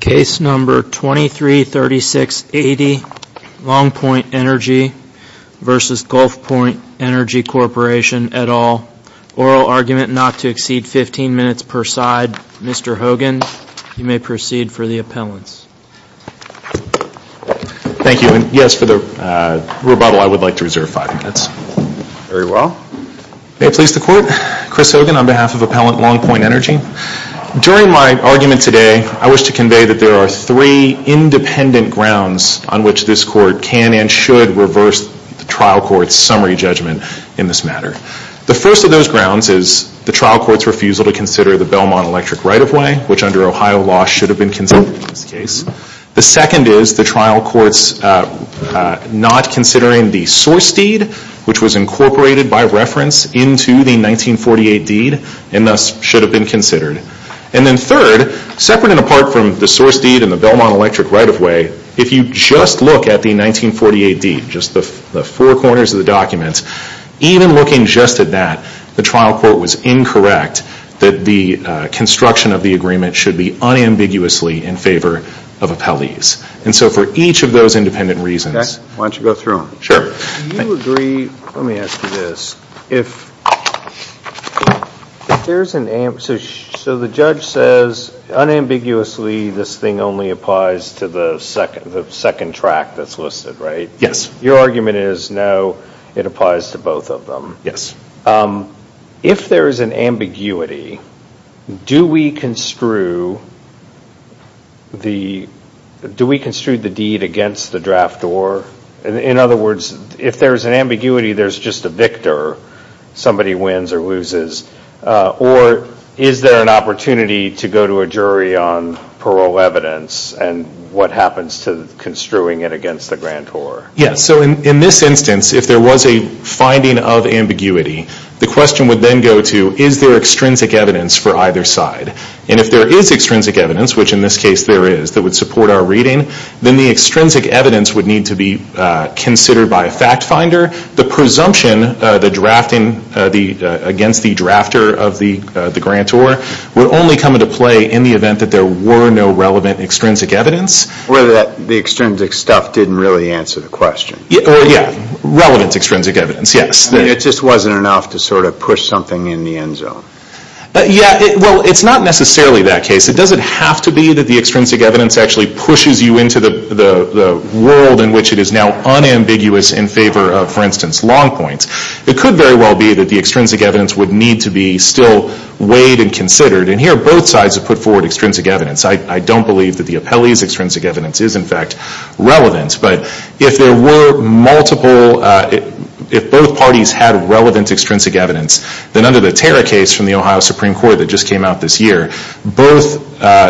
Case number 233680 Long Point Energy v. Gulfpoint Energy Corporation, et al., oral argument not to exceed 15 minutes per side. Mr. Hogan, you may proceed for the appellants. Thank you. Yes, for the rebuttal, I would like to reserve five minutes. Very well. May it please the Court, Chris Hogan on behalf of Appellant Long Point Energy. During my argument today, I wish to convey that there are three independent grounds on which this Court can and should reverse the trial court's summary judgment in this matter. The first of those grounds is the trial court's refusal to consider the Belmont Electric right-of-way, which under Ohio law should have been considered in this case. The second is the trial court's not considering the source deed, which was incorporated by reference into the 1948 deed and thus should have been considered. And then third, separate and apart from the source deed and the Belmont Electric right-of-way, if you just look at the 1948 deed, just the four corners of the document, even looking just at that, the trial court was incorrect that the construction of the agreement should be unambiguously in favor of appellees. And so for each of those independent reasons Why don't you go through them? Sure. Let me ask you this. So the judge says unambiguously this thing only applies to the second track that's listed, right? Yes. Your argument is no, it applies to both of them. Yes. If there is an ambiguity, do we construe the deed against the draft or, in other words, if there's an ambiguity, there's just a victor, somebody wins or loses, or is there an opportunity to go to a jury on parole evidence and what happens to construing it against the grantor? Yes. So in this instance, if there was a finding of ambiguity, the question would then go to, is there extrinsic evidence for either side? And if there is extrinsic evidence, which in this case there is, that would support our reading, then the extrinsic evidence would need to be considered by a fact finder. The presumption, the drafting against the drafter of the grantor would only come into play in the event that there were no relevant extrinsic evidence. Or that the extrinsic stuff didn't really answer the question. Yeah, relevant extrinsic evidence, yes. It just wasn't enough to sort of push something in the end zone. Yeah, well, it's not necessarily that case. It doesn't have to be that the extrinsic evidence actually pushes you into the world in which it is now unambiguous in favor of, for instance, long points. It could very well be that the extrinsic evidence would need to be still weighed and considered. And here both sides have put forward extrinsic evidence. I don't believe that the appellee's extrinsic evidence is, in fact, relevant. But if there were multiple, if both parties had relevant extrinsic evidence, then under the Tara case from the Ohio Supreme Court that just came out this year, both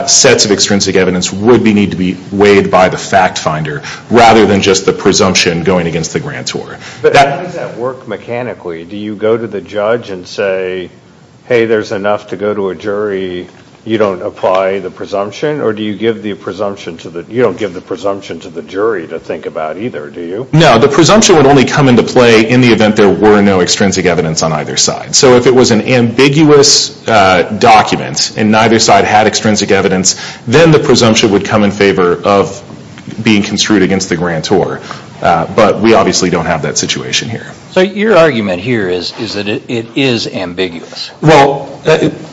sets of extrinsic evidence would need to be weighed by the fact finder rather than just the presumption going against the grantor. But how does that work mechanically? Do you go to the judge and say, hey, there's enough to go to a jury, you don't apply the presumption? Or do you give the presumption to the, you don't give the presumption to the jury to think about either, do you? No, the presumption would only come into play in the event there were no extrinsic evidence on either side. So if it was an ambiguous document and neither side had extrinsic evidence, then the presumption would come in favor of being construed against the grantor. But we obviously don't have that situation here. So your argument here is that it is ambiguous? Well,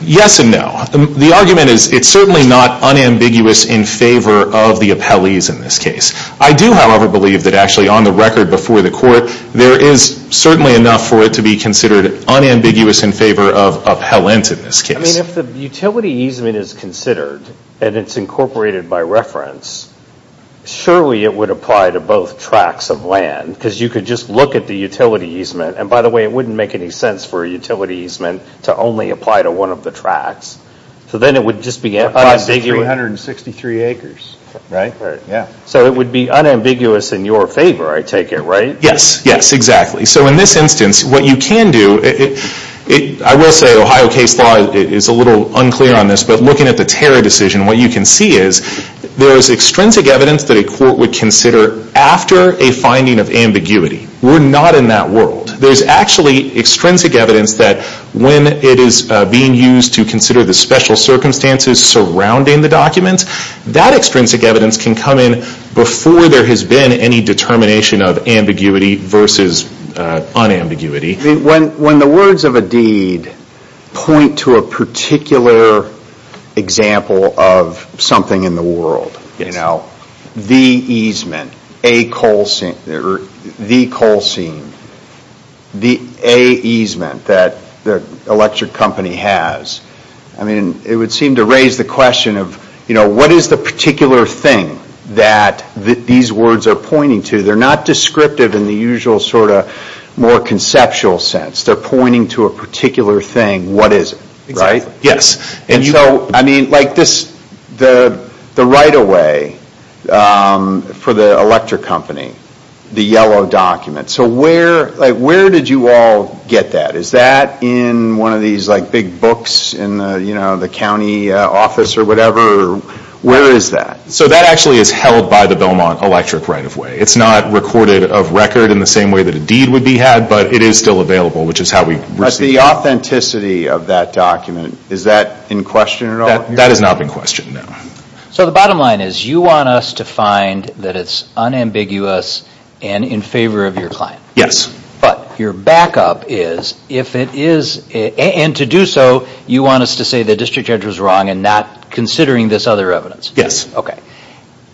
yes and no. The argument is it's certainly not unambiguous in favor of the appellees in this case. I do, however, believe that actually on the record before the court, there is certainly enough for it to be considered unambiguous in favor of appellants in this case. I mean, if the utility easement is considered and it's incorporated by reference, surely it would apply to both tracts of land because you could just look at the utility easement and, by the way, it wouldn't make any sense for a utility easement to only apply to one of the tracts. So then it would just be unambiguous. It applies to 363 acres, right? Right. So it would be unambiguous in your favor, I take it, right? Yes, yes, exactly. So in this instance, what you can do, I will say Ohio case law is a little unclear on this, but looking at the terror decision, what you can see is there is extrinsic evidence that a court would consider after a finding of ambiguity. We're not in that world. There's actually extrinsic evidence that when it is being used to consider the special circumstances surrounding the document, that extrinsic evidence can come in before there has been any determination of ambiguity versus unambiguity. When the words of a deed point to a particular example of something in the world, you know, the easement, the coal seam, the A easement that the electric company has, I mean, it would seem to raise the question of, you know, what is the particular thing that these words are pointing to? They're not descriptive in the usual sort of more conceptual sense. They're pointing to a particular thing. What is it? Right? Exactly. Yes. And so, I mean, like this, the right-of-way for the electric company, the yellow document. So where, like, where did you all get that? Is that in one of these, like, big books in the, you know, the county office or whatever? Where is that? So that actually is held by the Belmont Electric Right-of-Way. It's not recorded of record in the same way that a deed would be had, but it is still available, which is how we received it. But the authenticity of that document, is that in question at all? That is not in question, no. So the bottom line is you want us to find that it's unambiguous and in favor of your client. Yes. But your backup is, if it is, and to do so, you want us to say the district judge was wrong and not considering this other evidence. Yes. Okay.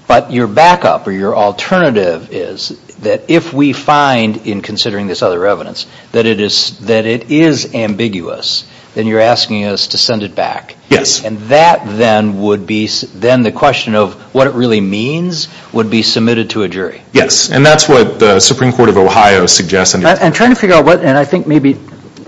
But your backup or your alternative is that if we find in considering this other evidence that it is ambiguous, then you're asking us to send it back. Yes. And that then would be, then the question of what it really means would be submitted to a jury. Yes. And that's what the Supreme Court of Justice suggests. I'm trying to figure out what, and I think maybe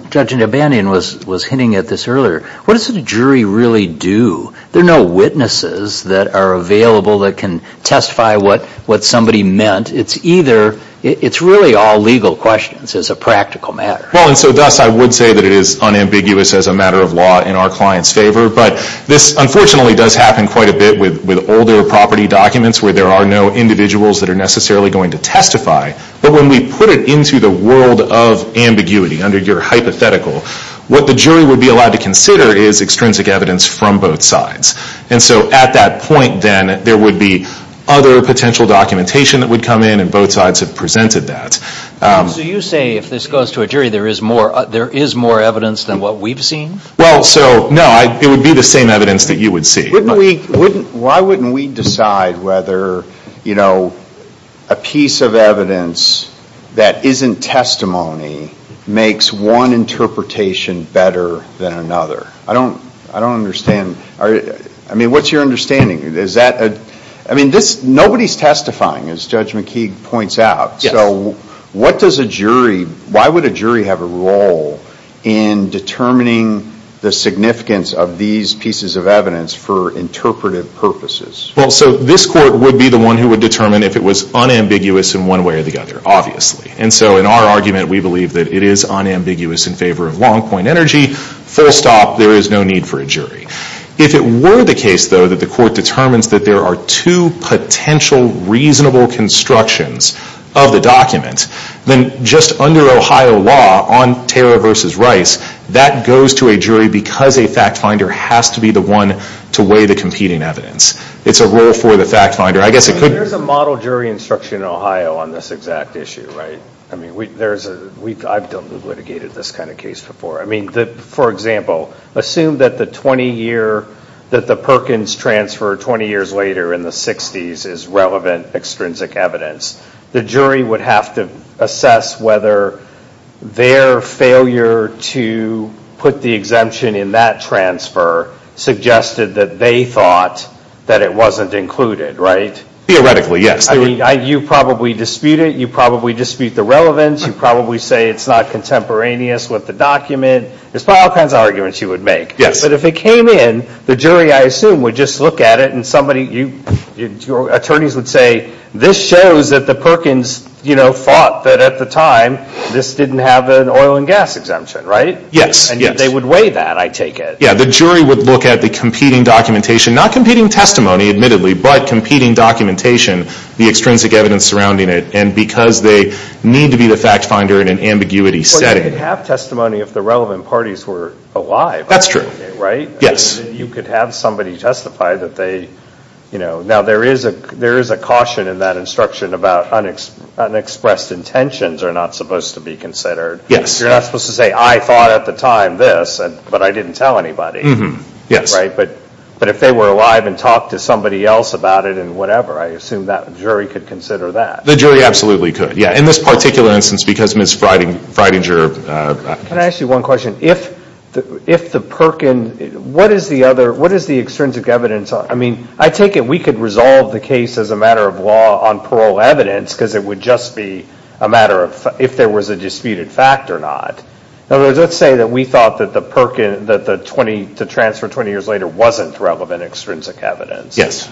Judge Nabandian was hinting at this earlier, what does a jury really do? There are no witnesses that are available that can testify what somebody meant. It's either, it's really all legal questions as a practical matter. Well, and so thus I would say that it is unambiguous as a matter of law in our client's favor. But this unfortunately does happen quite a bit with older property documents where there are no individuals that are necessarily going to testify. But when we put it into the world of ambiguity under your hypothetical, what the jury would be allowed to consider is extrinsic evidence from both sides. And so at that point, then, there would be other potential documentation that would come in and both sides have presented that. So you say if this goes to a jury, there is more evidence than what we've seen? Well, so no, it would be the same evidence that you would see. Why wouldn't we decide whether a piece of evidence that isn't testimony makes one interpretation better than another? I don't understand. I mean, what's your understanding? Is that, I mean, nobody's testifying, as Judge McKeague points out. So what does a jury, why would a jury have a role in determining the significance of these pieces of evidence for interpretive purposes? Well, so this court would be the one who would determine if it was unambiguous in one way or the other, obviously. And so in our argument, we believe that it is unambiguous in favor of long-point energy. Full stop, there is no need for a jury. If it were the case, though, that the court determines that there are two potential reasonable constructions of the document, then just under Ohio law on Tara v. Rice, that goes to a jury because a fact finder has to be the one to weigh the competing evidence. It's a role for the fact finder. I guess it could be... There's a model jury instruction in Ohio on this exact issue, right? I mean, there's a, I've done litigated this kind of case before. I mean, for example, assume that the 20-year, that the Perkins transfer 20 years later in the 60s is relevant extrinsic evidence. The jury would have to assess whether their failure to put the exemption in that transfer suggested that they thought that it wasn't included, right? Theoretically, yes. You probably dispute it. You probably dispute the relevance. You probably say it's not contemporaneous with the document. There's all kinds of arguments you would make. Yes. But if it came in, the jury, I assume, would just look at it and somebody, your attorneys would say, this shows that the Perkins, you know, thought that at the time, this didn't have an oil and gas exemption, right? Yes, yes. And they would weigh that, I take it. Yeah, the jury would look at the competing documentation, not competing testimony, admittedly, but competing documentation, the extrinsic evidence surrounding it, and because they need to be the fact finder in an ambiguity setting. Well, you could have testimony if the relevant parties were alive. That's true. Right? Yes. You could have somebody testify that they, you know, now there is a caution in that instruction about unexpressed intentions are not supposed to be considered. Yes. You're not supposed to say, I thought at the time this, but I didn't tell anybody. Yes. Right? But if they were alive and talked to somebody else about it and whatever, I assume that jury could consider that. The jury absolutely could, yeah. In this particular instance, because Ms. Freidinger... Can I ask you one question? If the Perkins, what is the other, what is the extrinsic evidence? I mean, I take it we could resolve the case as a matter of law on parole evidence because it would just be a matter of if there was a disputed fact or not. In other words, let's say that we thought that the Perkins, that the transfer 20 years later wasn't relevant extrinsic evidence. Yes.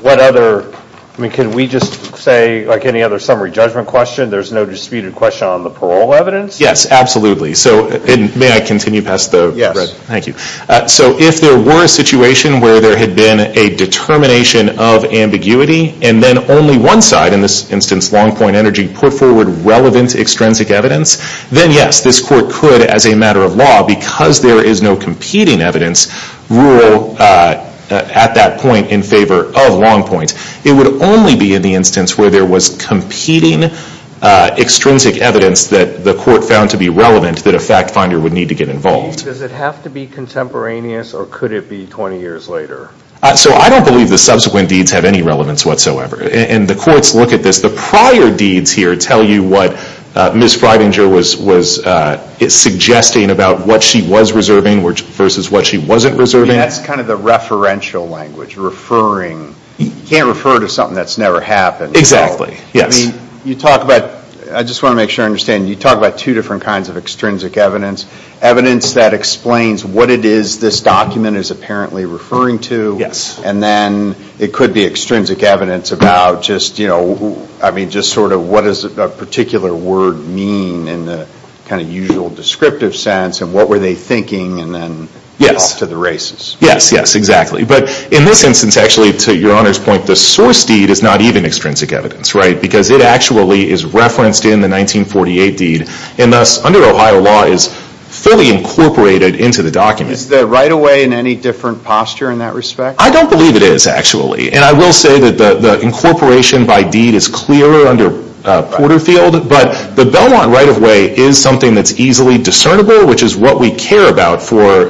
What other, I mean, can we just say, like any other summary judgment question, there's no disputed question on the parole evidence? Yes, absolutely. So, and may I continue past the... Yes. Thank you. So if there were a situation where there had been a determination of ambiguity and then only one side, in this instance Longpoint Energy, put forward relevant extrinsic evidence, then yes, this court could, as a matter of law, because there is no competing evidence, rule at that point in favor of Longpoint. It would only be in the instance where there was competing extrinsic evidence that the court found to be relevant that a fact finder would need to get involved. Does it have to be contemporaneous or could it be 20 years later? So I don't believe the subsequent deeds have any relevance whatsoever. And the courts look at this, the prior deeds here tell you what Ms. Freidinger was suggesting about what she was reserving versus what she wasn't reserving. That's kind of the referential language, referring. You can't refer to something that's never happened. Exactly. Yes. You talk about, I just want to make sure I understand, you talk about two different kinds of extrinsic evidence. Evidence that explains what it is this document is apparently referring to. Yes. And then it could be extrinsic evidence about just, you know, I mean, just sort of what does a particular word mean in the kind of usual descriptive sense and what were they thinking and then off to the races. Yes, yes, exactly. But in this instance, actually, to Your Honor's point, the source deed is not even extrinsic evidence, right, because it actually is referenced in the 1948 deed and thus under Ohio law is fully incorporated into the document. Is the right-of-way in any different posture in that respect? I don't believe it is, actually. And I will say that the incorporation by deed is clearer under Porterfield, but the Belmont right-of-way is something that's easily discernible, which is what we care about for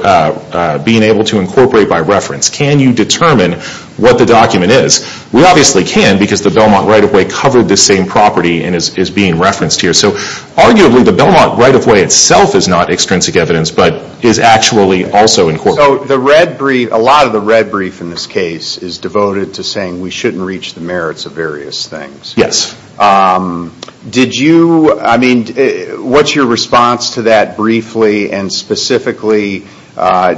being able to incorporate by reference. Can you determine what the document is? We obviously can because the Belmont right-of-way covered the same property and is being referenced here. So arguably the Belmont right-of-way itself is not extrinsic evidence, but is actually also incorporated. So the red brief, a lot of the red brief in this case is devoted to saying we shouldn't reach the merits of various things. Yes. Did you, I mean, what's your response to that briefly and specifically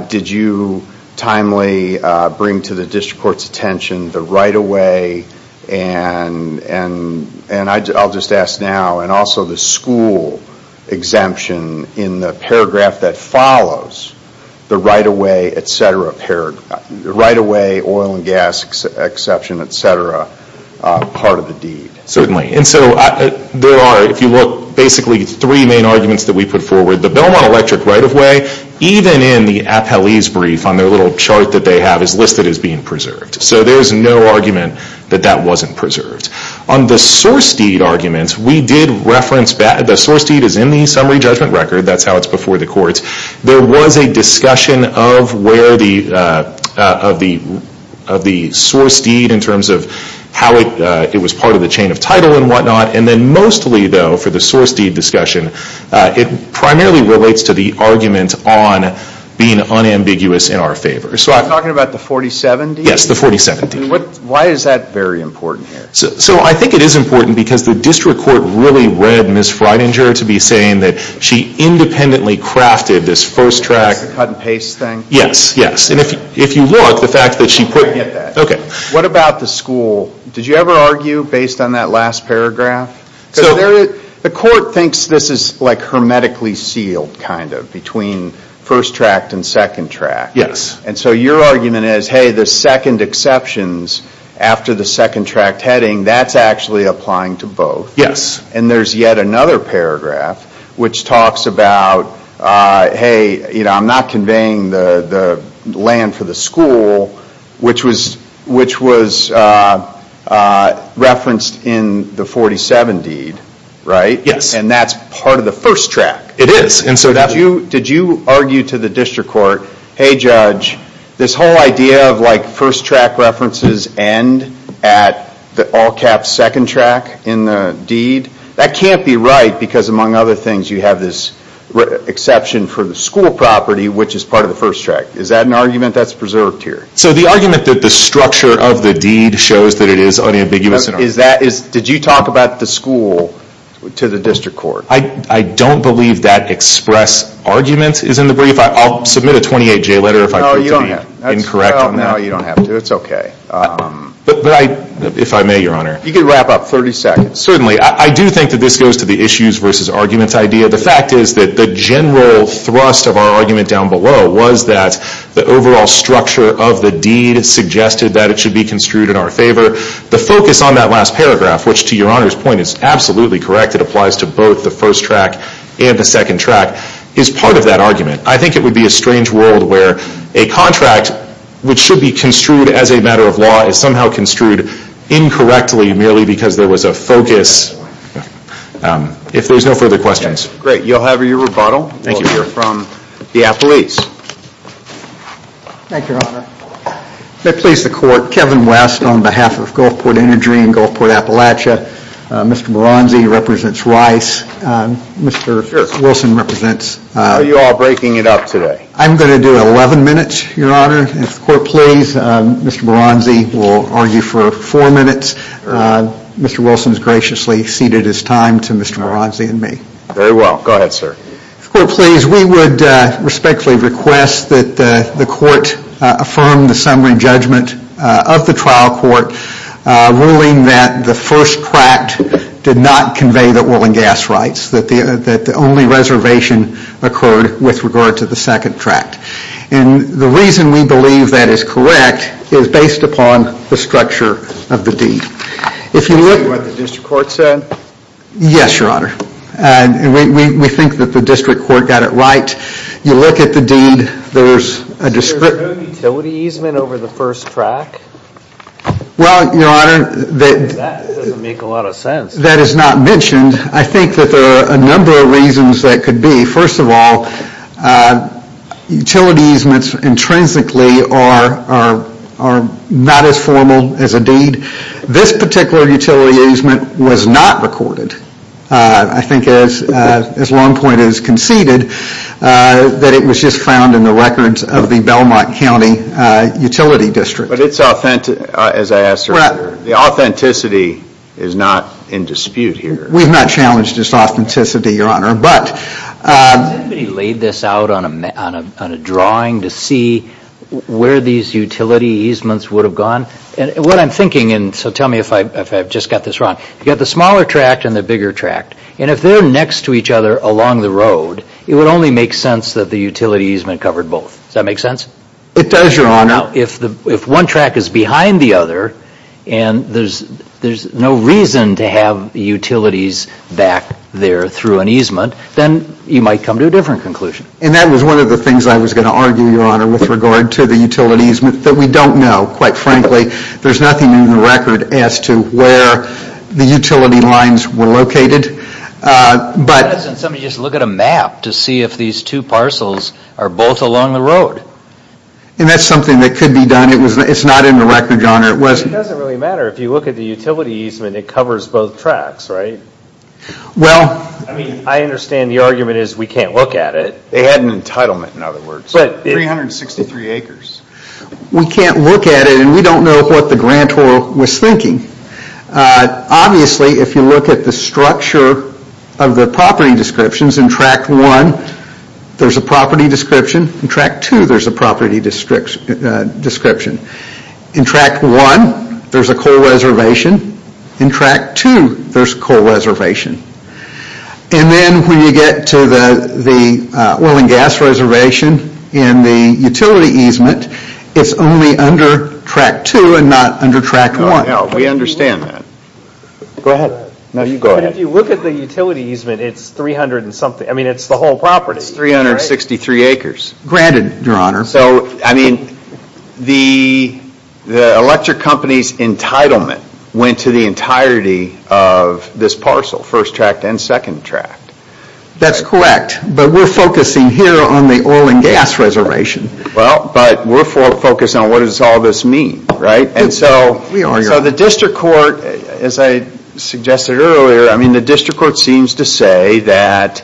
did you timely bring to the district court's attention the right-of-way and I'll just ask now and also the school exemption in the paragraph that follows the right-of-way, et cetera, right-of-way, oil and gas exception, et cetera, part of the deed? Certainly. And so there are, if you look, basically three main arguments that we put forward. The Belmont electric right-of-way, even in the appellee's brief on their little court that they have is listed as being preserved. So there's no argument that that wasn't preserved. On the source deed arguments, we did reference that the source deed is in the summary judgment record. That's how it's before the courts. There was a discussion of where the, of the source deed in terms of how it was part of the chain of title and whatnot. And then mostly though for the source deed discussion, it primarily relates to the argument on being unambiguous in our favor. So I'm talking about the 47 deed? Yes, the 47 deed. Why is that very important here? So I think it is important because the district court really read Ms. Freidinger to be saying that she independently crafted this first tract. It's a cut and paste thing? Yes, yes. And if you look, the fact that she put... I get that. What about the school? Did you ever argue based on that last paragraph? The court thinks this is like hermetically sealed, kind of, between first tract and second tract. Yes. And so your argument is, hey, the second exceptions after the second tract heading, that's actually applying to both. Yes. And there's yet another paragraph which talks about, hey, I'm not conveying the land for the school, which was referenced in the 47 deed, right? Yes. And that's part of the first tract. It is. So did you argue to the district court, hey, judge, this whole idea of first tract references end at the all-caps second tract in the deed? That can't be right because, among other things, you have this exception for the school property, which is part of the first tract. Is that an argument that's preserved here? So the argument that the structure of the deed shows that it is unambiguous in our favor. Did you talk about the school to the district court? I don't believe that express argument is in the brief. I'll submit a 28-J letter if I prove to be incorrect on that. No, you don't have to. It's okay. If I may, Your Honor. You can wrap up. 30 seconds. Certainly. I do think that this goes to the issues versus arguments idea. The fact is that the general thrust of our argument down below was that the overall structure of the deed is in our favor. The focus on that last paragraph, which to Your Honor's point is absolutely correct, it applies to both the first tract and the second tract, is part of that argument. I think it would be a strange world where a contract, which should be construed as a matter of law, is somehow construed incorrectly merely because there was a focus. If there's no further questions. Great. You'll have your rebuttal while we hear from the appellees. Thank you, Your Honor. May it please the court, Kevin West on behalf of Gulfport Energy and Gulfport Appalachia. Mr. Baranzi represents Rice. Mr. Wilson represents- Are you all breaking it up today? I'm going to do 11 minutes, Your Honor. If the court please, Mr. Baranzi will argue for four minutes. Mr. Wilson has graciously ceded his time to Mr. Baranzi and me. Very well. Go ahead, sir. If the court please, we would respectfully request that the court affirm the summary judgment of the trial court ruling that the first tract did not convey the oil and gas rights, that the only reservation occurred with regard to the second tract. And the reason we believe that is correct is based upon the structure of the deed. Is that what the district court said? Yes, Your Honor. We think that the district court got it right. You look at the deed, there's a description- So there's no utility easement over the first tract? Well, Your Honor, that- That doesn't make a lot of sense. That is not mentioned. I think that there are a number of reasons that could be. First of all, utility easements intrinsically are not as formal as a deed. This particular utility easement was not recorded. I think as Longpoint has conceded, that it was just found in the records of the Belmont County Utility District. But it's authentic, as I asked earlier. The authenticity is not in dispute here. We've not challenged its authenticity, Your Honor, but- Has anybody laid this out on a drawing to see where these utility easements would have gone? What I'm thinking, and so tell me if I've just got this wrong, you've got the smaller tract and the bigger tract. And if they're next to each other along the road, it would only make sense that the utility easement covered both. Does that make sense? It does, Your Honor. Now, if one tract is behind the other, and there's no reason to have utilities back there through an easement, then you might come to a different conclusion. And that was one of the things I was going to argue, Your Honor, with regard to the utility easement, that we don't know, quite frankly. There's nothing in the record as to where the utility lines were located. Why doesn't somebody just look at a map to see if these two parcels are both along the And that's something that could be done. It's not in the record, Your Honor. It doesn't really matter. If you look at the utility easement, it covers both tracts, right? Well- I mean, I understand the argument is we can't look at it. They had an entitlement, in other words. But 363 acres. We can't look at it, and we don't know what the grantor was thinking. Obviously, if you look at the structure of the property descriptions, in tract one, there's a property description. In tract two, there's a property description. In tract one, there's a coal reservation. In tract two, there's a coal reservation. And then when you get to the oil and gas reservation, and the utility easement, it's only under tract two and not under tract one. We understand that. Go ahead. No, you go ahead. But if you look at the utility easement, it's 300 and something. I mean, it's the whole property. It's 363 acres. Granted, Your Honor. So, I mean, the electric company's entitlement went to the entirety of this parcel, first tract and second tract. That's correct. But we're focusing here on the oil and gas reservation. Well, but we're focused on what does all this mean, right? And so- We are, Your Honor. So the district court, as I suggested earlier, I mean, the district court seems to say that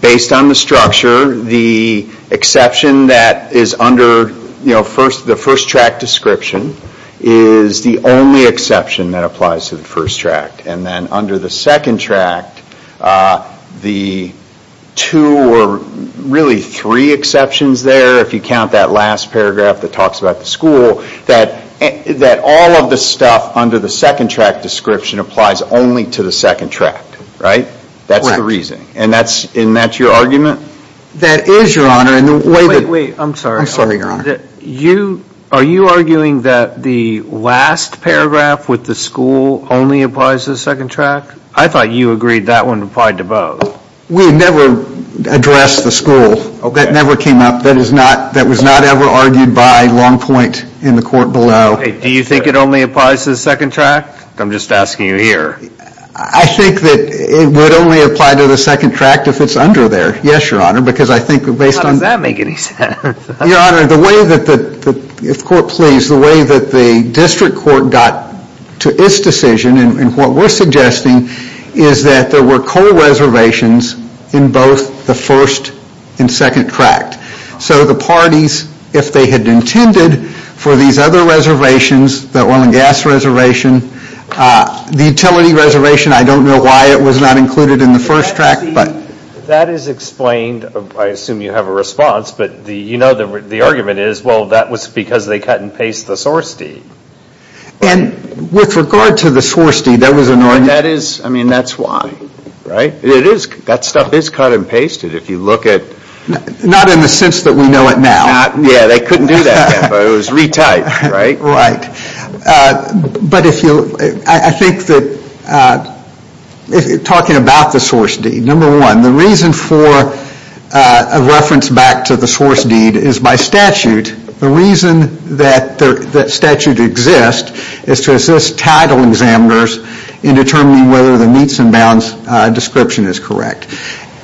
based on the structure, the exception that is under the first tract description is the only exception that applies to the first tract. And then under the second tract, the two or really three exceptions there, if you count that last paragraph that talks about the school, that all of the stuff under the second tract description applies only to the second tract, right? Correct. That's the reason. And that's your argument? That is, Your Honor. Wait, wait. I'm sorry. I'm sorry, Your Honor. Are you arguing that the last paragraph with the school only applies to the second tract? I thought you agreed that one applied to both. We never addressed the school. That never came up. That was not ever argued by Longpoint in the court below. Do you think it only applies to the second tract? I'm just asking you here. I think that it would only apply to the second tract if it's under there. Yes, Your Honor, because I think based on How does that make any sense? Your Honor, the way that the, if the court please, the way that the district court got to its decision in what we're suggesting is that there were coal reservations in both the first and second tract. So the parties, if they had intended for these other reservations, the oil and gas reservation, the utility reservation, I don't know why it was not included in the first tract, but See, that is explained. I assume you have a response, but the, you know, the argument is, well, that was because they cut and pasted the source deed. And with regard to the source deed, there was an argument That is, I mean, that's why, right? It is, that stuff is cut and pasted. If you look at Not in the sense that we know it now. Not, yeah, they couldn't do that. But it was retyped, right? Right. But if you, I think that if you're talking about the source deed, number one, the reason for a reference back to the source deed is by statute. The reason that statute exists is to assist title examiners in determining whether the meets and bounds description is correct.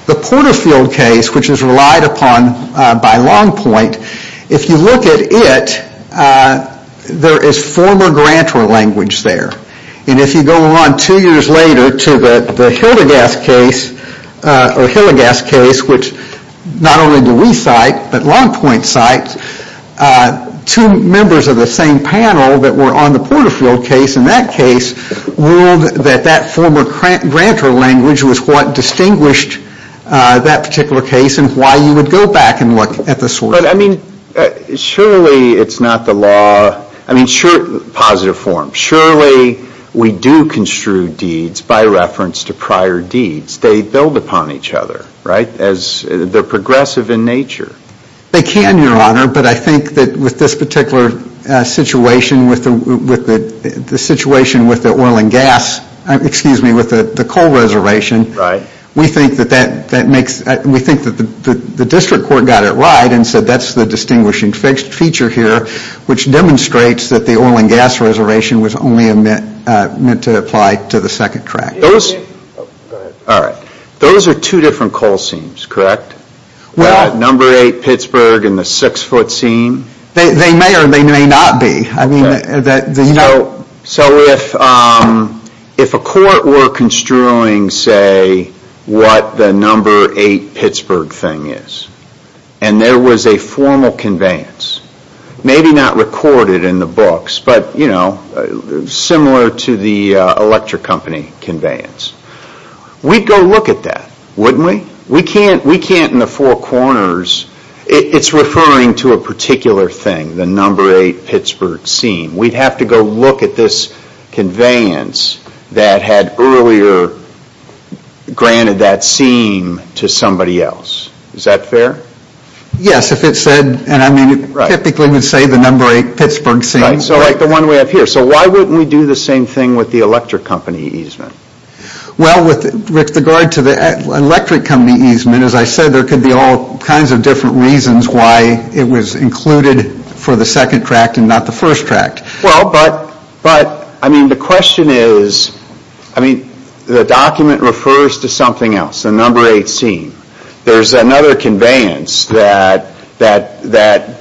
The Porterfield case, which is relied upon by Longpoint, if you look at it, there is former grantor language there. And if you go on two years later to the Hildegast case, or Hildegast case, which not only do we cite, but Longpoint cites, two members of the same panel that were on the Porterfield case in that case ruled that that former grantor language was what distinguished that particular case and why you would go back and look at the source. But, I mean, surely it's not the law, I mean, sure, positive form, surely we do construe deeds by reference to prior deeds. They build upon each other, right? As, they're progressive in nature. They can, Your Honor, but I think that with this particular situation, with the situation with the oil and gas, excuse me, with the coal reservation, we think that that makes, we think that the district court got it right and said that's the distinguishing feature here, which demonstrates that the oil and gas reservation was only meant to apply to the second track. Those are two different coal seams, correct? Number 8 Pittsburgh and the 6 foot seam? They may or they may not be. So if a court were construing, say, what the number 8 Pittsburgh thing is, and there was a formal conveyance, maybe not recorded in the books, but, you know, similar to the electric company conveyance, we'd go look at that, wouldn't we? We can't in the four corners, it's referring to a particular thing, the number 8 Pittsburgh seam. We'd have to go look at this conveyance that had earlier granted that seam to somebody else. Is that fair? Yes, if it said, and I mean, it typically would say the number 8 Pittsburgh seam. Right, so like the one we have here. So why wouldn't we do the same thing with the electric company easement? Well, with regard to the electric company easement, as I said, there could be all kinds of different reasons why it was included for the second tract and not the first tract. Well, but, I mean, the question is, I mean, the document refers to something else, the number 8 seam. There's another conveyance that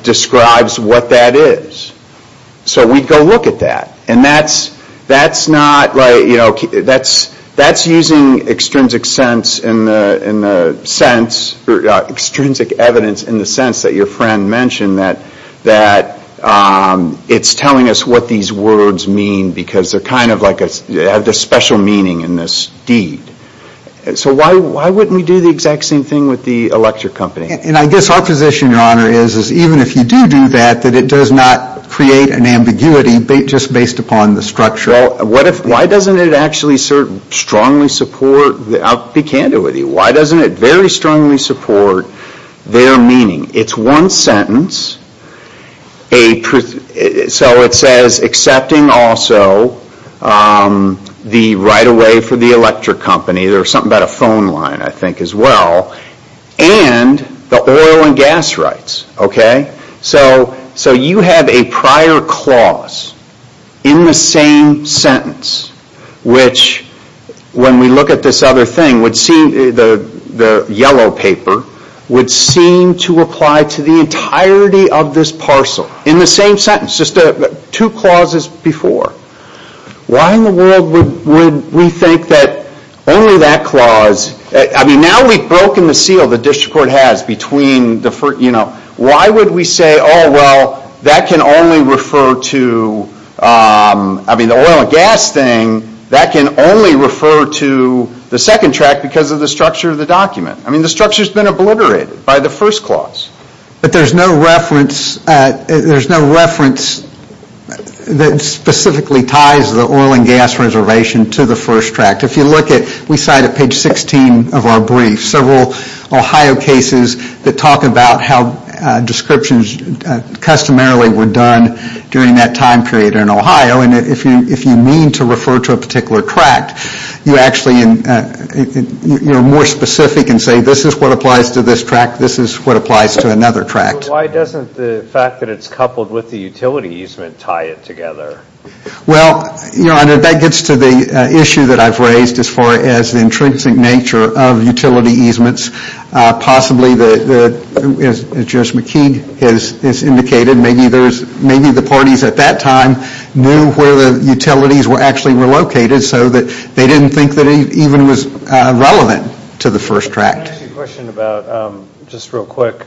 describes what that is. So we'd go look at that. And that's not, you know, that's using extrinsic sense in the sense, extrinsic evidence in the sense that your friend mentioned that it's telling us what these words mean because they're kind of like, they have this special meaning in this deed. So why wouldn't we do the exact same thing with the electric company? And I guess our position, Your Honor, is even if you do do that, that it does not create an ambiguity just based upon the structure. Well, why doesn't it actually strongly support, I'll be candid with you, why doesn't it very strongly support their meaning? It's one sentence, so it says accepting also the right of way for the electric company. There was something about a phone line, I think, as well. And gas rights, okay? So you have a prior clause in the same sentence, which when we look at this other thing, the yellow paper, would seem to apply to the entirety of this parcel in the same sentence, just two clauses before. Why in the world would we think that only that clause, I mean, now we've broken the seal the district court has between, you know, why would we say, oh, well, that can only refer to, I mean, the oil and gas thing, that can only refer to the second tract because of the structure of the document. I mean, the structure's been obliterated by the first clause. But there's no reference, there's no reference that specifically ties the oil and gas reservation to the first tract. If you look at, we cite at page 16 of our brief, several Ohio cases that talk about how descriptions customarily were done during that time period in Ohio. And if you mean to refer to a particular tract, you actually, you're more specific and say, this is what applies to this tract, this is what applies to another tract. So why doesn't the fact that it's coupled with the utility easement tie it together? Well, you know, that gets to the issue that I've raised as far as the intrinsic nature of utility easements. Possibly the, as Judge McKeague has indicated, maybe there's, maybe the parties at that time knew where the utilities were actually were located so that they didn't think that it even was relevant to the first tract. I have a question about, just real quick,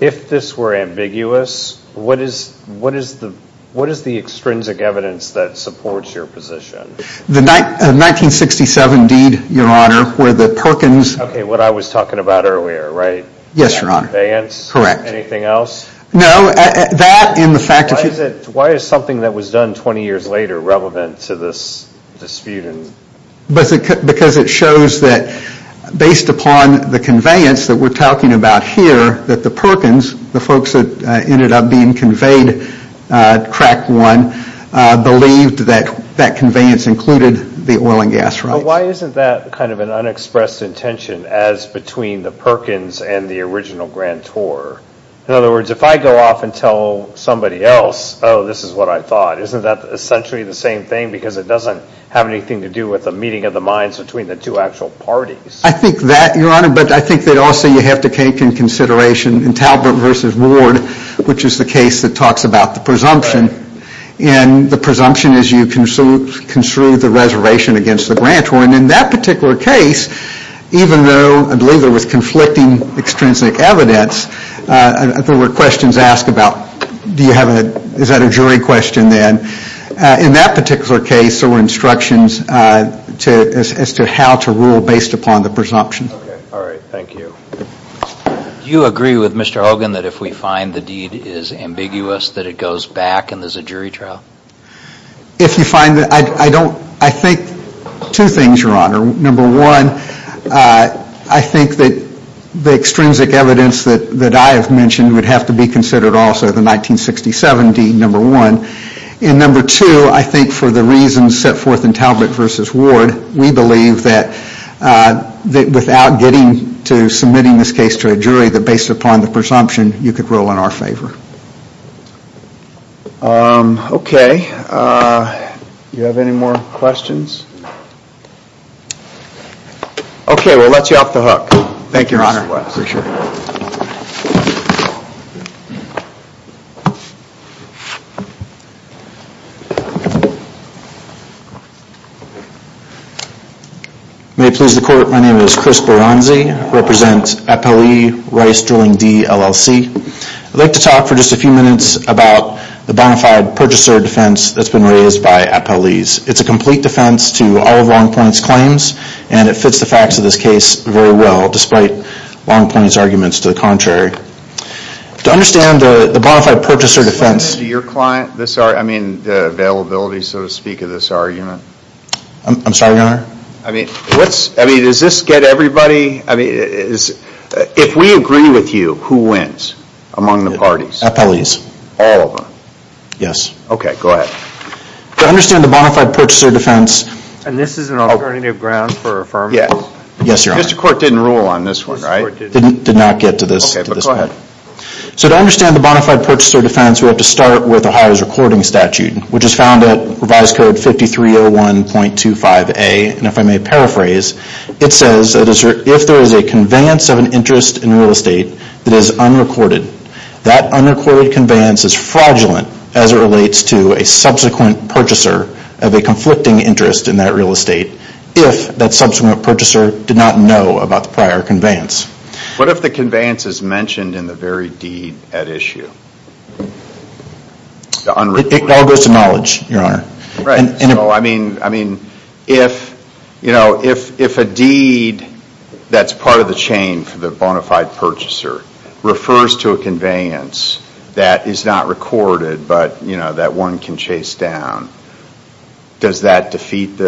if this were ambiguous, what is, what is the, what is the extrinsic evidence that supports your position? The 1967 deed, your honor, where the Perkins. Okay, what I was talking about earlier, right? Yes, your honor. Vance? Correct. Anything else? No, that and the fact that. Why is something that was done 20 years later relevant to this dispute? Because it shows that based upon the conveyance that we're talking about here, that the Perkins, the folks that ended up being conveyed tract one, believed that that conveyance included the oil and gas rights. Why isn't that kind of an unexpressed intention as between the Perkins and the original Grand Tour? In other words, if I go off and tell somebody else, oh, this is what I thought, isn't that essentially the same thing? Because it doesn't have anything to do with the meeting of the minds between the two actual parties. I think that, your honor, but I think that also you have to take in consideration in Talbot versus Ward, which is the case that talks about the presumption. And the presumption is you construed the reservation against the Grand Tour. And in that particular case, even though I believe it was conflicting extrinsic evidence, there were questions asked about, do you have a, is that a jury question then? In that particular case, there were instructions as to how to rule based upon the presumption. Okay. All right. Thank you. Do you agree with Mr. Hogan that if we find the deed is ambiguous, that it goes back and there's a jury trial? If you find that, I don't, I think two things, your honor. Number one, I think that the extrinsic evidence that I have mentioned would have to be considered also, the 1967 deed, number one. And number two, I think for the reasons set forth in Talbot versus Ward, we believe that without getting to submitting this case to a jury, that based upon the presumption, you could roll in our favor. Okay. You have any more questions? Okay. We'll let you off the hook. Thank you, Mr. West. For sure. May it please the court, my name is Chris Baranzi, I represent FLE Rice Drilling D, LLC. I'd like to talk for just a few minutes about the bonafide purchaser defense that's been raised by appellees. It's a complete defense to all of Longpoint's claims, and it fits the facts of this case very well, despite Longpoint's arguments to the contrary. To understand the bonafide purchaser defense. To your client, this, I mean, the availability, so to speak, of this argument. I'm sorry, your honor? I mean, what's, I mean, does this get everybody, I mean, is, if we agree with you, who wins among the parties? Appellees. All of them? Yes. Okay, go ahead. To understand the bonafide purchaser defense. And this is an alternative ground for affirmative? Yes. Yes, your honor. Mr. Court didn't rule on this one, right? Did not get to this. Okay, but go ahead. So to understand the bonafide purchaser defense, we have to start with Ohio's recording statute, which is found at revised code 5301.25a, and if I may paraphrase, it says that if there is a conveyance of an interest in real estate that is unrecorded, that unrecorded conveyance is fraudulent as it relates to a subsequent purchaser of a conflicting interest in that real estate, if that subsequent purchaser did not know about the prior conveyance. What if the conveyance is mentioned in the very deed at issue? The unrecorded? It all goes to knowledge, your honor. Right, so I mean, if a deed that's part of the chain for the bonafide purchaser refers to a conveyance that is not recorded, but that one can chase down, does that put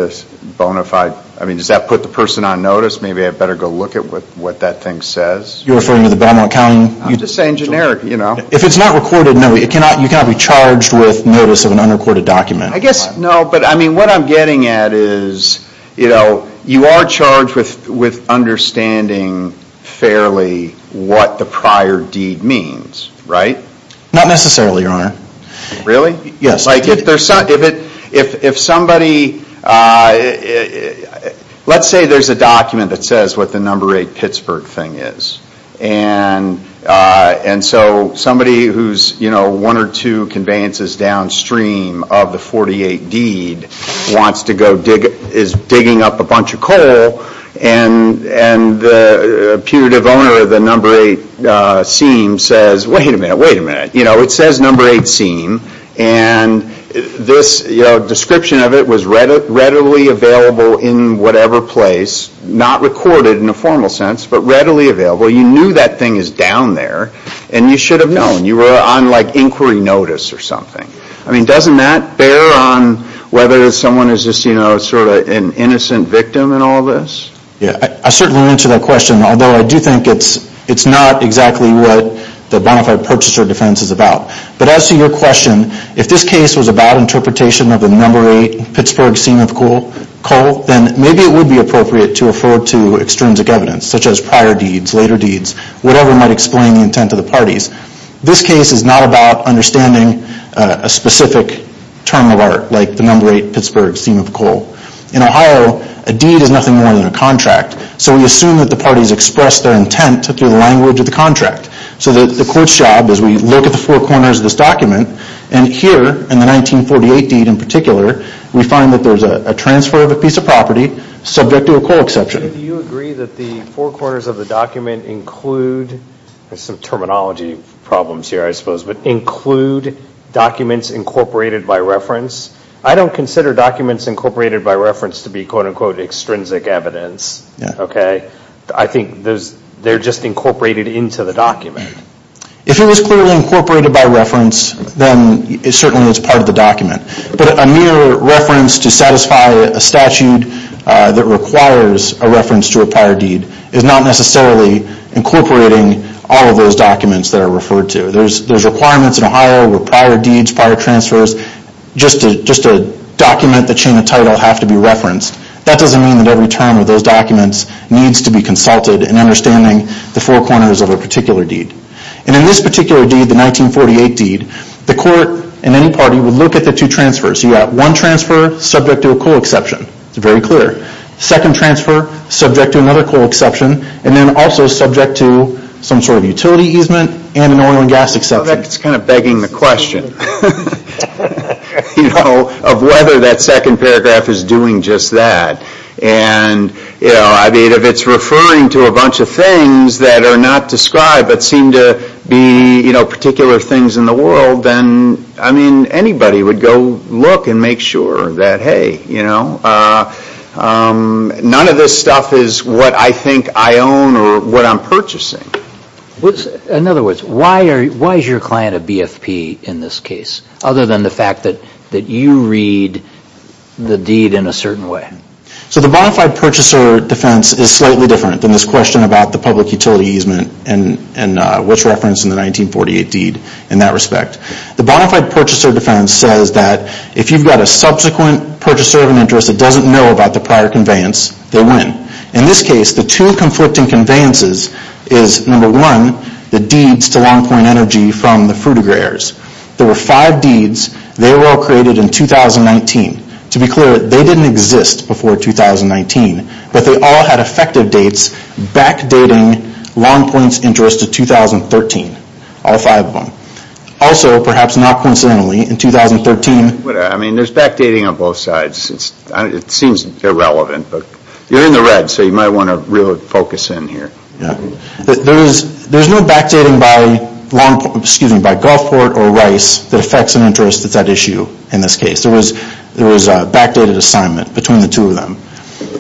the person on notice? Maybe I better go look at what that thing says? You're referring to the Belmont County? I'm just saying generic, you know? If it's not recorded, no, you cannot be charged with notice of an unrecorded document. I guess, no, but I mean, what I'm getting at is, you know, you are charged with understanding fairly what the prior deed means, right? Not necessarily, your honor. Really? Yes. Like if somebody, let's say there's a document that says what the number eight Pittsburgh thing is, and so somebody who's, you know, one or two conveyances downstream of the 48 deed wants to go dig, is digging up a bunch of coal, and the punitive owner of the number eight seam says, wait a minute, wait a minute, you know, it says number eight seam, and this, you know, description of it was readily available in whatever place, not recorded in a formal sense, but readily available, you knew that thing is down there, and you should have known. You were on, like, inquiry notice or something. I mean, doesn't that bear on whether someone is just, you know, sort of an innocent victim in all of this? Yeah, I certainly answer that question, although I do think it's not exactly what the bona fide purchaser defense is about. But as to your question, if this case was about interpretation of the number eight Pittsburgh seam of coal, then maybe it would be appropriate to afford to extrinsic evidence, such as prior deeds, later deeds, whatever might explain the intent of the parties. This case is not about understanding a specific term of art, like the number eight Pittsburgh seam of coal. In Ohio, a deed is nothing more than a contract, so we assume that the parties expressed their intent through the language of the contract. So the court's job is we look at the four corners of this document, and here, in the 1948 deed in particular, we find that there's a transfer of a piece of property subject to a coal exception. Do you agree that the four corners of the document include, there's some terminology problems here, I suppose, but include documents incorporated by reference? I don't consider documents incorporated by reference to be, quote, unquote, extrinsic evidence, okay? I think they're just incorporated into the document. If it was clearly incorporated by reference, then it certainly is part of the document. But a mere reference to satisfy a statute that requires a reference to a prior deed is not necessarily incorporating all of those documents that are referred to. There's requirements in Ohio with prior deeds, prior transfers, just to document the chain of title have to be referenced. That doesn't mean that every term of those documents needs to be consulted in understanding the four corners of a particular deed. And in this particular deed, the 1948 deed, the court and any party would look at the two transfers. You got one transfer subject to a coal exception, it's very clear. Second transfer subject to another coal exception, and then also subject to some sort of utility easement and an oil and gas exception. In fact, it's kind of begging the question of whether that second paragraph is doing just that. And I mean, if it's referring to a bunch of things that are not described but seem to be particular things in the world, then, I mean, anybody would go look and make sure that, hey, none of this stuff is what I think I own or what I'm purchasing. In other words, why is your client a BFP in this case, other than the fact that you read the deed in a certain way? So the bonafide purchaser defense is slightly different than this question about the public utility easement and what's referenced in the 1948 deed in that respect. The bonafide purchaser defense says that if you've got a subsequent purchaser of an interest that doesn't know about the prior conveyance, they win. In this case, the two conflicting conveyances is, number one, the deeds to Long Point Energy from the Frutigrares. There were five deeds, they were all created in 2019. To be clear, they didn't exist before 2019, but they all had effective dates backdating Long Point's interest to 2013, all five of them. Also, perhaps not coincidentally, in 2013- But I mean, there's backdating on both sides. It seems irrelevant, but you're in the red, so you might want to really focus in here. Yeah, there's no backdating by Long Point, excuse me, by Gulfport or Rice that affects an interest that's at issue in this case. There was a backdated assignment between the two of them.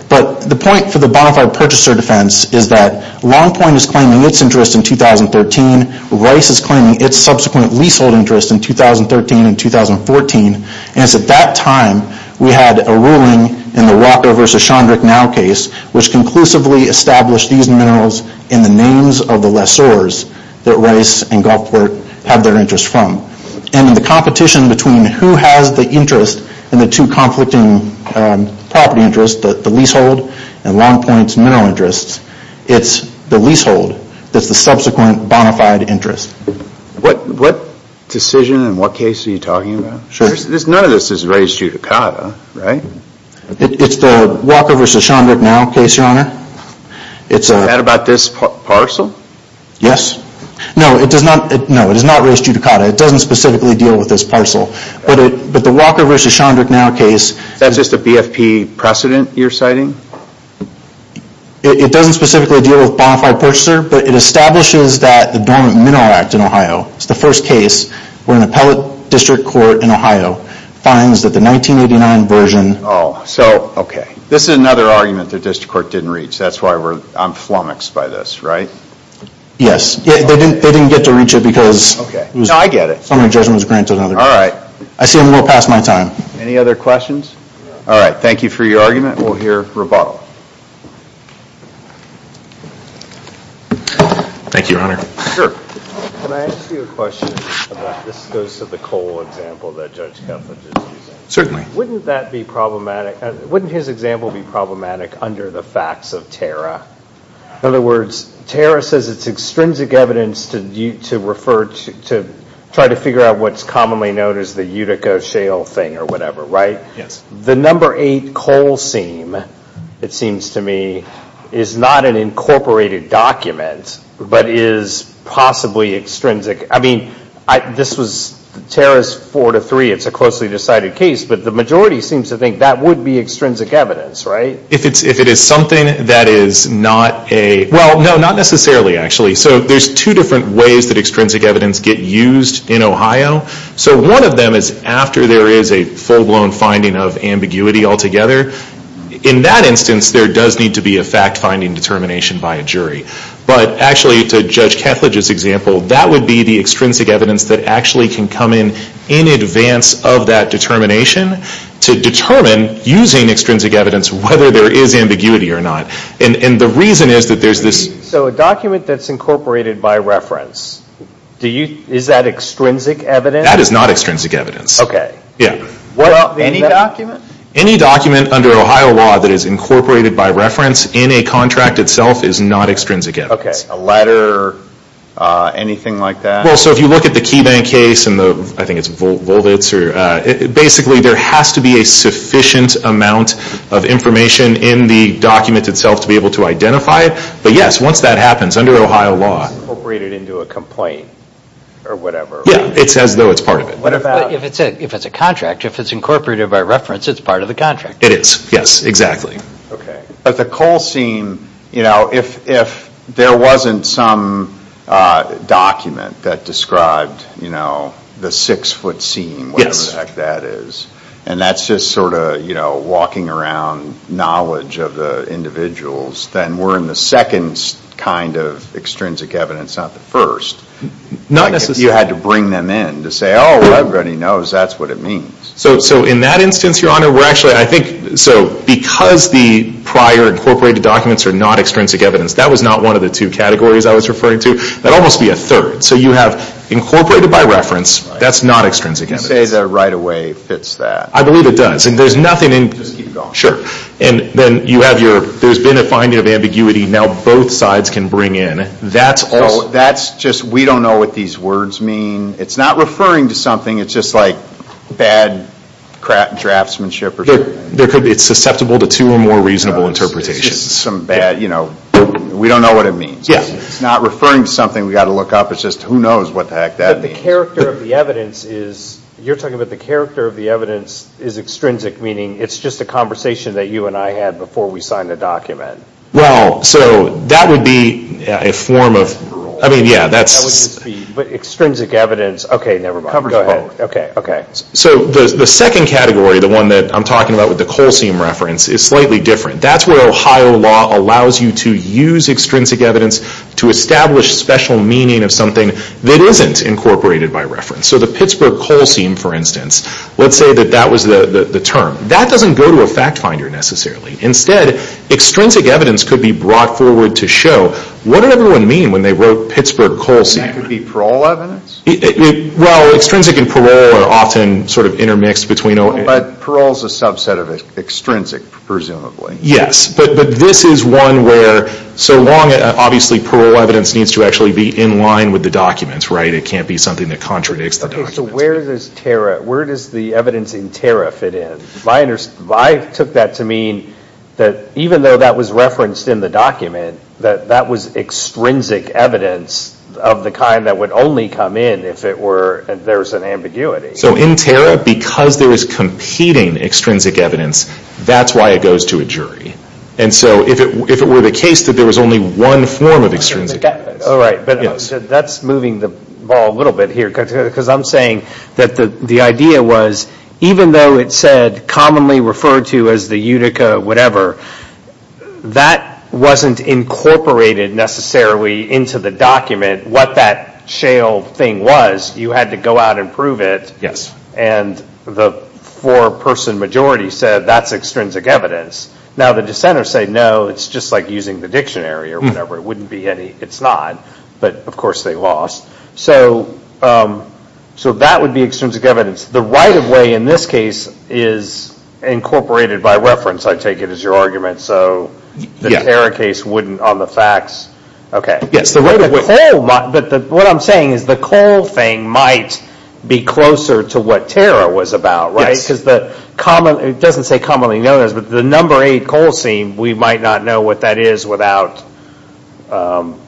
But the point for the bonafide purchaser defense is that Long Point is claiming its interest in 2013. Rice is claiming its subsequent leasehold interest in 2013 and 2014. And it's at that time we had a ruling in the Walker versus Shondrick Now case, which conclusively established these minerals in the names of the lessors that Rice and Gulfport have their interest from. And in the competition between who has the interest and the two conflicting property interests, the leasehold and Long Point's mineral interests, it's the leasehold that's the subsequent bonafide interest. What decision and what case are you talking about? Sure. None of this is raised judicata, right? It's the Walker versus Shondrick Now case, your honor. Is that about this parcel? Yes. No, it is not raised judicata. It doesn't specifically deal with this parcel. But the Walker versus Shondrick Now case- Is that just a BFP precedent you're citing? It doesn't specifically deal with bonafide purchaser, but it establishes that the Dormant Mineral Act in Ohio, it's the first case where an appellate district court in Ohio finds that the 1989 version- So, okay. This is another argument the district court didn't reach. That's why I'm flummoxed by this, right? Yes, they didn't get to reach it because- Okay. No, I get it. Some of the judgment was granted another- All right. I see I'm a little past my time. Any other questions? All right, thank you for your argument. We'll hear rebuttal. Thank you, your honor. Sure. Can I ask you a question about, this goes to the Cole example that Judge Keflan just used. Certainly. Wouldn't that be problematic, wouldn't his example be problematic under the facts of Tara? In other words, Tara says it's extrinsic evidence to refer to, to try to figure out what's commonly known as the Utica Shale thing or whatever, right? Yes. The number eight Cole scene, it seems to me, is not an incorporated document, but is possibly extrinsic. I mean, this was Tara's four to three. It's a closely decided case, but the majority seems to think that would be extrinsic evidence, right? If it is something that is not a, well, no, not necessarily, actually. So there's two different ways that extrinsic evidence get used in Ohio. So one of them is after there is a full-blown finding of ambiguity altogether. In that instance, there does need to be a fact-finding determination by a jury. But actually, to Judge Ketledge's example, that would be the extrinsic evidence that actually can come in in advance of that determination to determine, using extrinsic evidence, whether there is ambiguity or not. And the reason is that there's this- So a document that's incorporated by reference, is that extrinsic evidence? That is not extrinsic evidence. Okay. Yeah. Well, any document? Any document under Ohio law that is incorporated by reference in a contract itself is not extrinsic evidence. Okay, a letter, anything like that? Well, so if you look at the KeyBank case and the, I think it's Volvitz, basically there has to be a sufficient amount of information in the document itself to be able to identify it. But yes, once that happens, under Ohio law- It's incorporated into a complaint or whatever, right? Yeah, it's as though it's part of it. What about- If it's a contract, if it's incorporated by reference, it's part of the contract. It is, yes, exactly. Okay, but the Cole scene, if there wasn't some document that described the six foot scene, whatever the heck that is, and that's just sort of walking around knowledge of the individuals, then we're in the second kind of extrinsic evidence, not the first. Not necessarily. You had to bring them in to say, oh, everybody knows that's what it means. So in that instance, Your Honor, we're actually, I think, so because the prior incorporated documents are not extrinsic evidence, that was not one of the two categories I was referring to. That would almost be a third. So you have incorporated by reference. That's not extrinsic evidence. You say that right away fits that. I believe it does. And there's nothing in- Just keep going. Sure. And then you have your, there's been a finding of ambiguity. Now both sides can bring in. That's also- That's just, we don't know what these words mean. It's not referring to something. It's just like bad craftsmanship or something. There could be, it's susceptible to two or more reasonable interpretations. Some bad, you know, we don't know what it means. Yeah. It's not referring to something we've got to look up. It's just who knows what the heck that means. But the character of the evidence is, you're talking about the character of the evidence is extrinsic, meaning it's just a conversation that you and I had before we signed the document. Well, so that would be a form of, I mean, yeah, that's- That would just be, but extrinsic evidence, okay, never mind. Go ahead. Okay, okay. So the second category, the one that I'm talking about with the colseum reference, is slightly different. That's where Ohio law allows you to use extrinsic evidence to establish special meaning of something that isn't incorporated by reference. So the Pittsburgh colseum, for instance, let's say that that was the term. That doesn't go to a fact finder necessarily. Instead, extrinsic evidence could be brought forward to show, what did everyone mean when they wrote Pittsburgh colseum? That could be parole evidence? Well, extrinsic and parole are often sort of intermixed between- But parole's a subset of extrinsic, presumably. Yes, but this is one where, so long, obviously, parole evidence needs to actually be in line with the documents, right? It can't be something that contradicts the documents. Okay, so where does the evidence in TARA fit in? I took that to mean that even though that was referenced in the document, that that was extrinsic evidence of the kind that would only come in if it were, if there was an ambiguity. So in TARA, because there is competing extrinsic evidence, that's why it goes to a jury. And so if it were the case that there was only one form of extrinsic evidence- All right, but that's moving the ball a little bit here, because I'm saying that the idea was, even though it said commonly referred to as the Utica, whatever, that wasn't incorporated necessarily into the document, what that shale thing was. You had to go out and prove it. Yes. And the four-person majority said, that's extrinsic evidence. Now the dissenters say, no, it's just like using the dictionary or whatever. It wouldn't be any, it's not, but of course they lost. So that would be extrinsic evidence. The right-of-way in this case is incorporated by reference, I take it as your argument. So the TARA case wouldn't on the facts, okay. Yes, the right-of-way. But what I'm saying is the coal thing might be closer to what TARA was about, right? Because the common, it doesn't say commonly known as, but the number eight coal seam, we might not know what that is without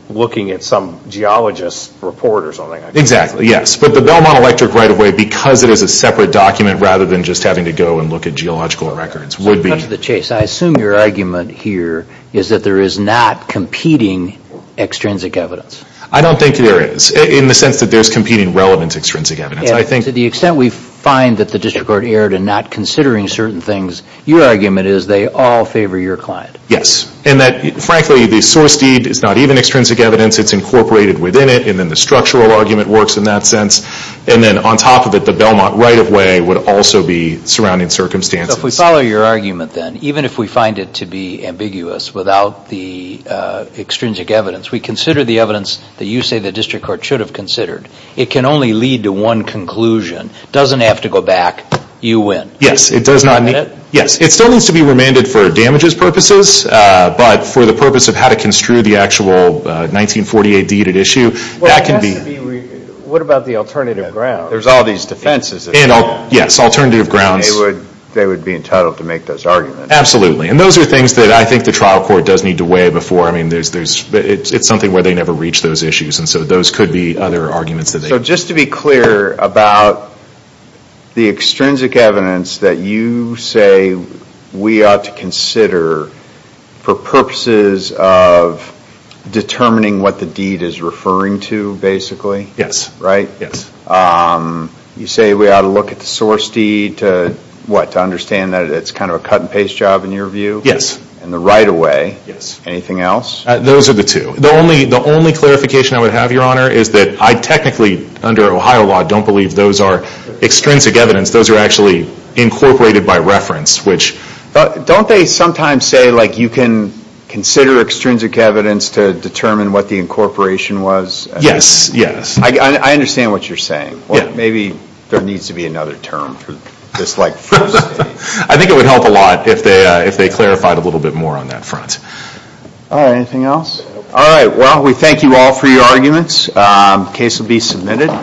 looking at some geologist report or something. Exactly, yes. But the Belmont Electric right-of-way, because it is a separate document rather than just having to go and look at geological records, would be- To the chase, I assume your argument here is that there is not competing extrinsic evidence. I don't think there is, in the sense that there's competing relevant extrinsic evidence. I think- To the extent we find that the district court erred in not considering certain things, your argument is they all favor your client. Yes, and that frankly the source deed is not even extrinsic evidence, it's incorporated within it, and then the structural argument works in that sense. And then on top of it, the Belmont right-of-way would also be surrounding circumstances. If we follow your argument then, even if we find it to be ambiguous without the extrinsic evidence, we consider the evidence that you say the district court should have considered. It can only lead to one conclusion, doesn't have to go back, you win. Yes, it does not- Is that it? Yes, it still needs to be remanded for damages purposes, but for the purpose of how to construe the actual 1948 deed at issue, that can be- Well, it has to be, what about the alternative grounds? There's all these defenses that- Yes, alternative grounds. They would be entitled to make those arguments. Absolutely, and those are things that I think the trial court does need to weigh before, I mean, it's something where they never reach those issues, and so those could be other arguments that they- So just to be clear about the extrinsic evidence that you say we ought to consider for purposes of determining what the deed is referring to, basically? Yes. Right? Yes. You say we ought to look at the source deed to, what, to understand that it's kind of a cut and paste job in your view? Yes. In the right of way? Yes. Anything else? Those are the two. The only clarification I would have, Your Honor, is that I technically, under Ohio law, don't believe those are extrinsic evidence, those are actually incorporated by reference, which- Don't they sometimes say, like, you can consider extrinsic evidence to determine what the incorporation was? Yes, yes. I understand what you're saying. Maybe there needs to be another term for this, like, first deed. I think it would help a lot if they clarified a little bit more on that front. All right, anything else? All right, well, we thank you all for your arguments. The case will be submitted.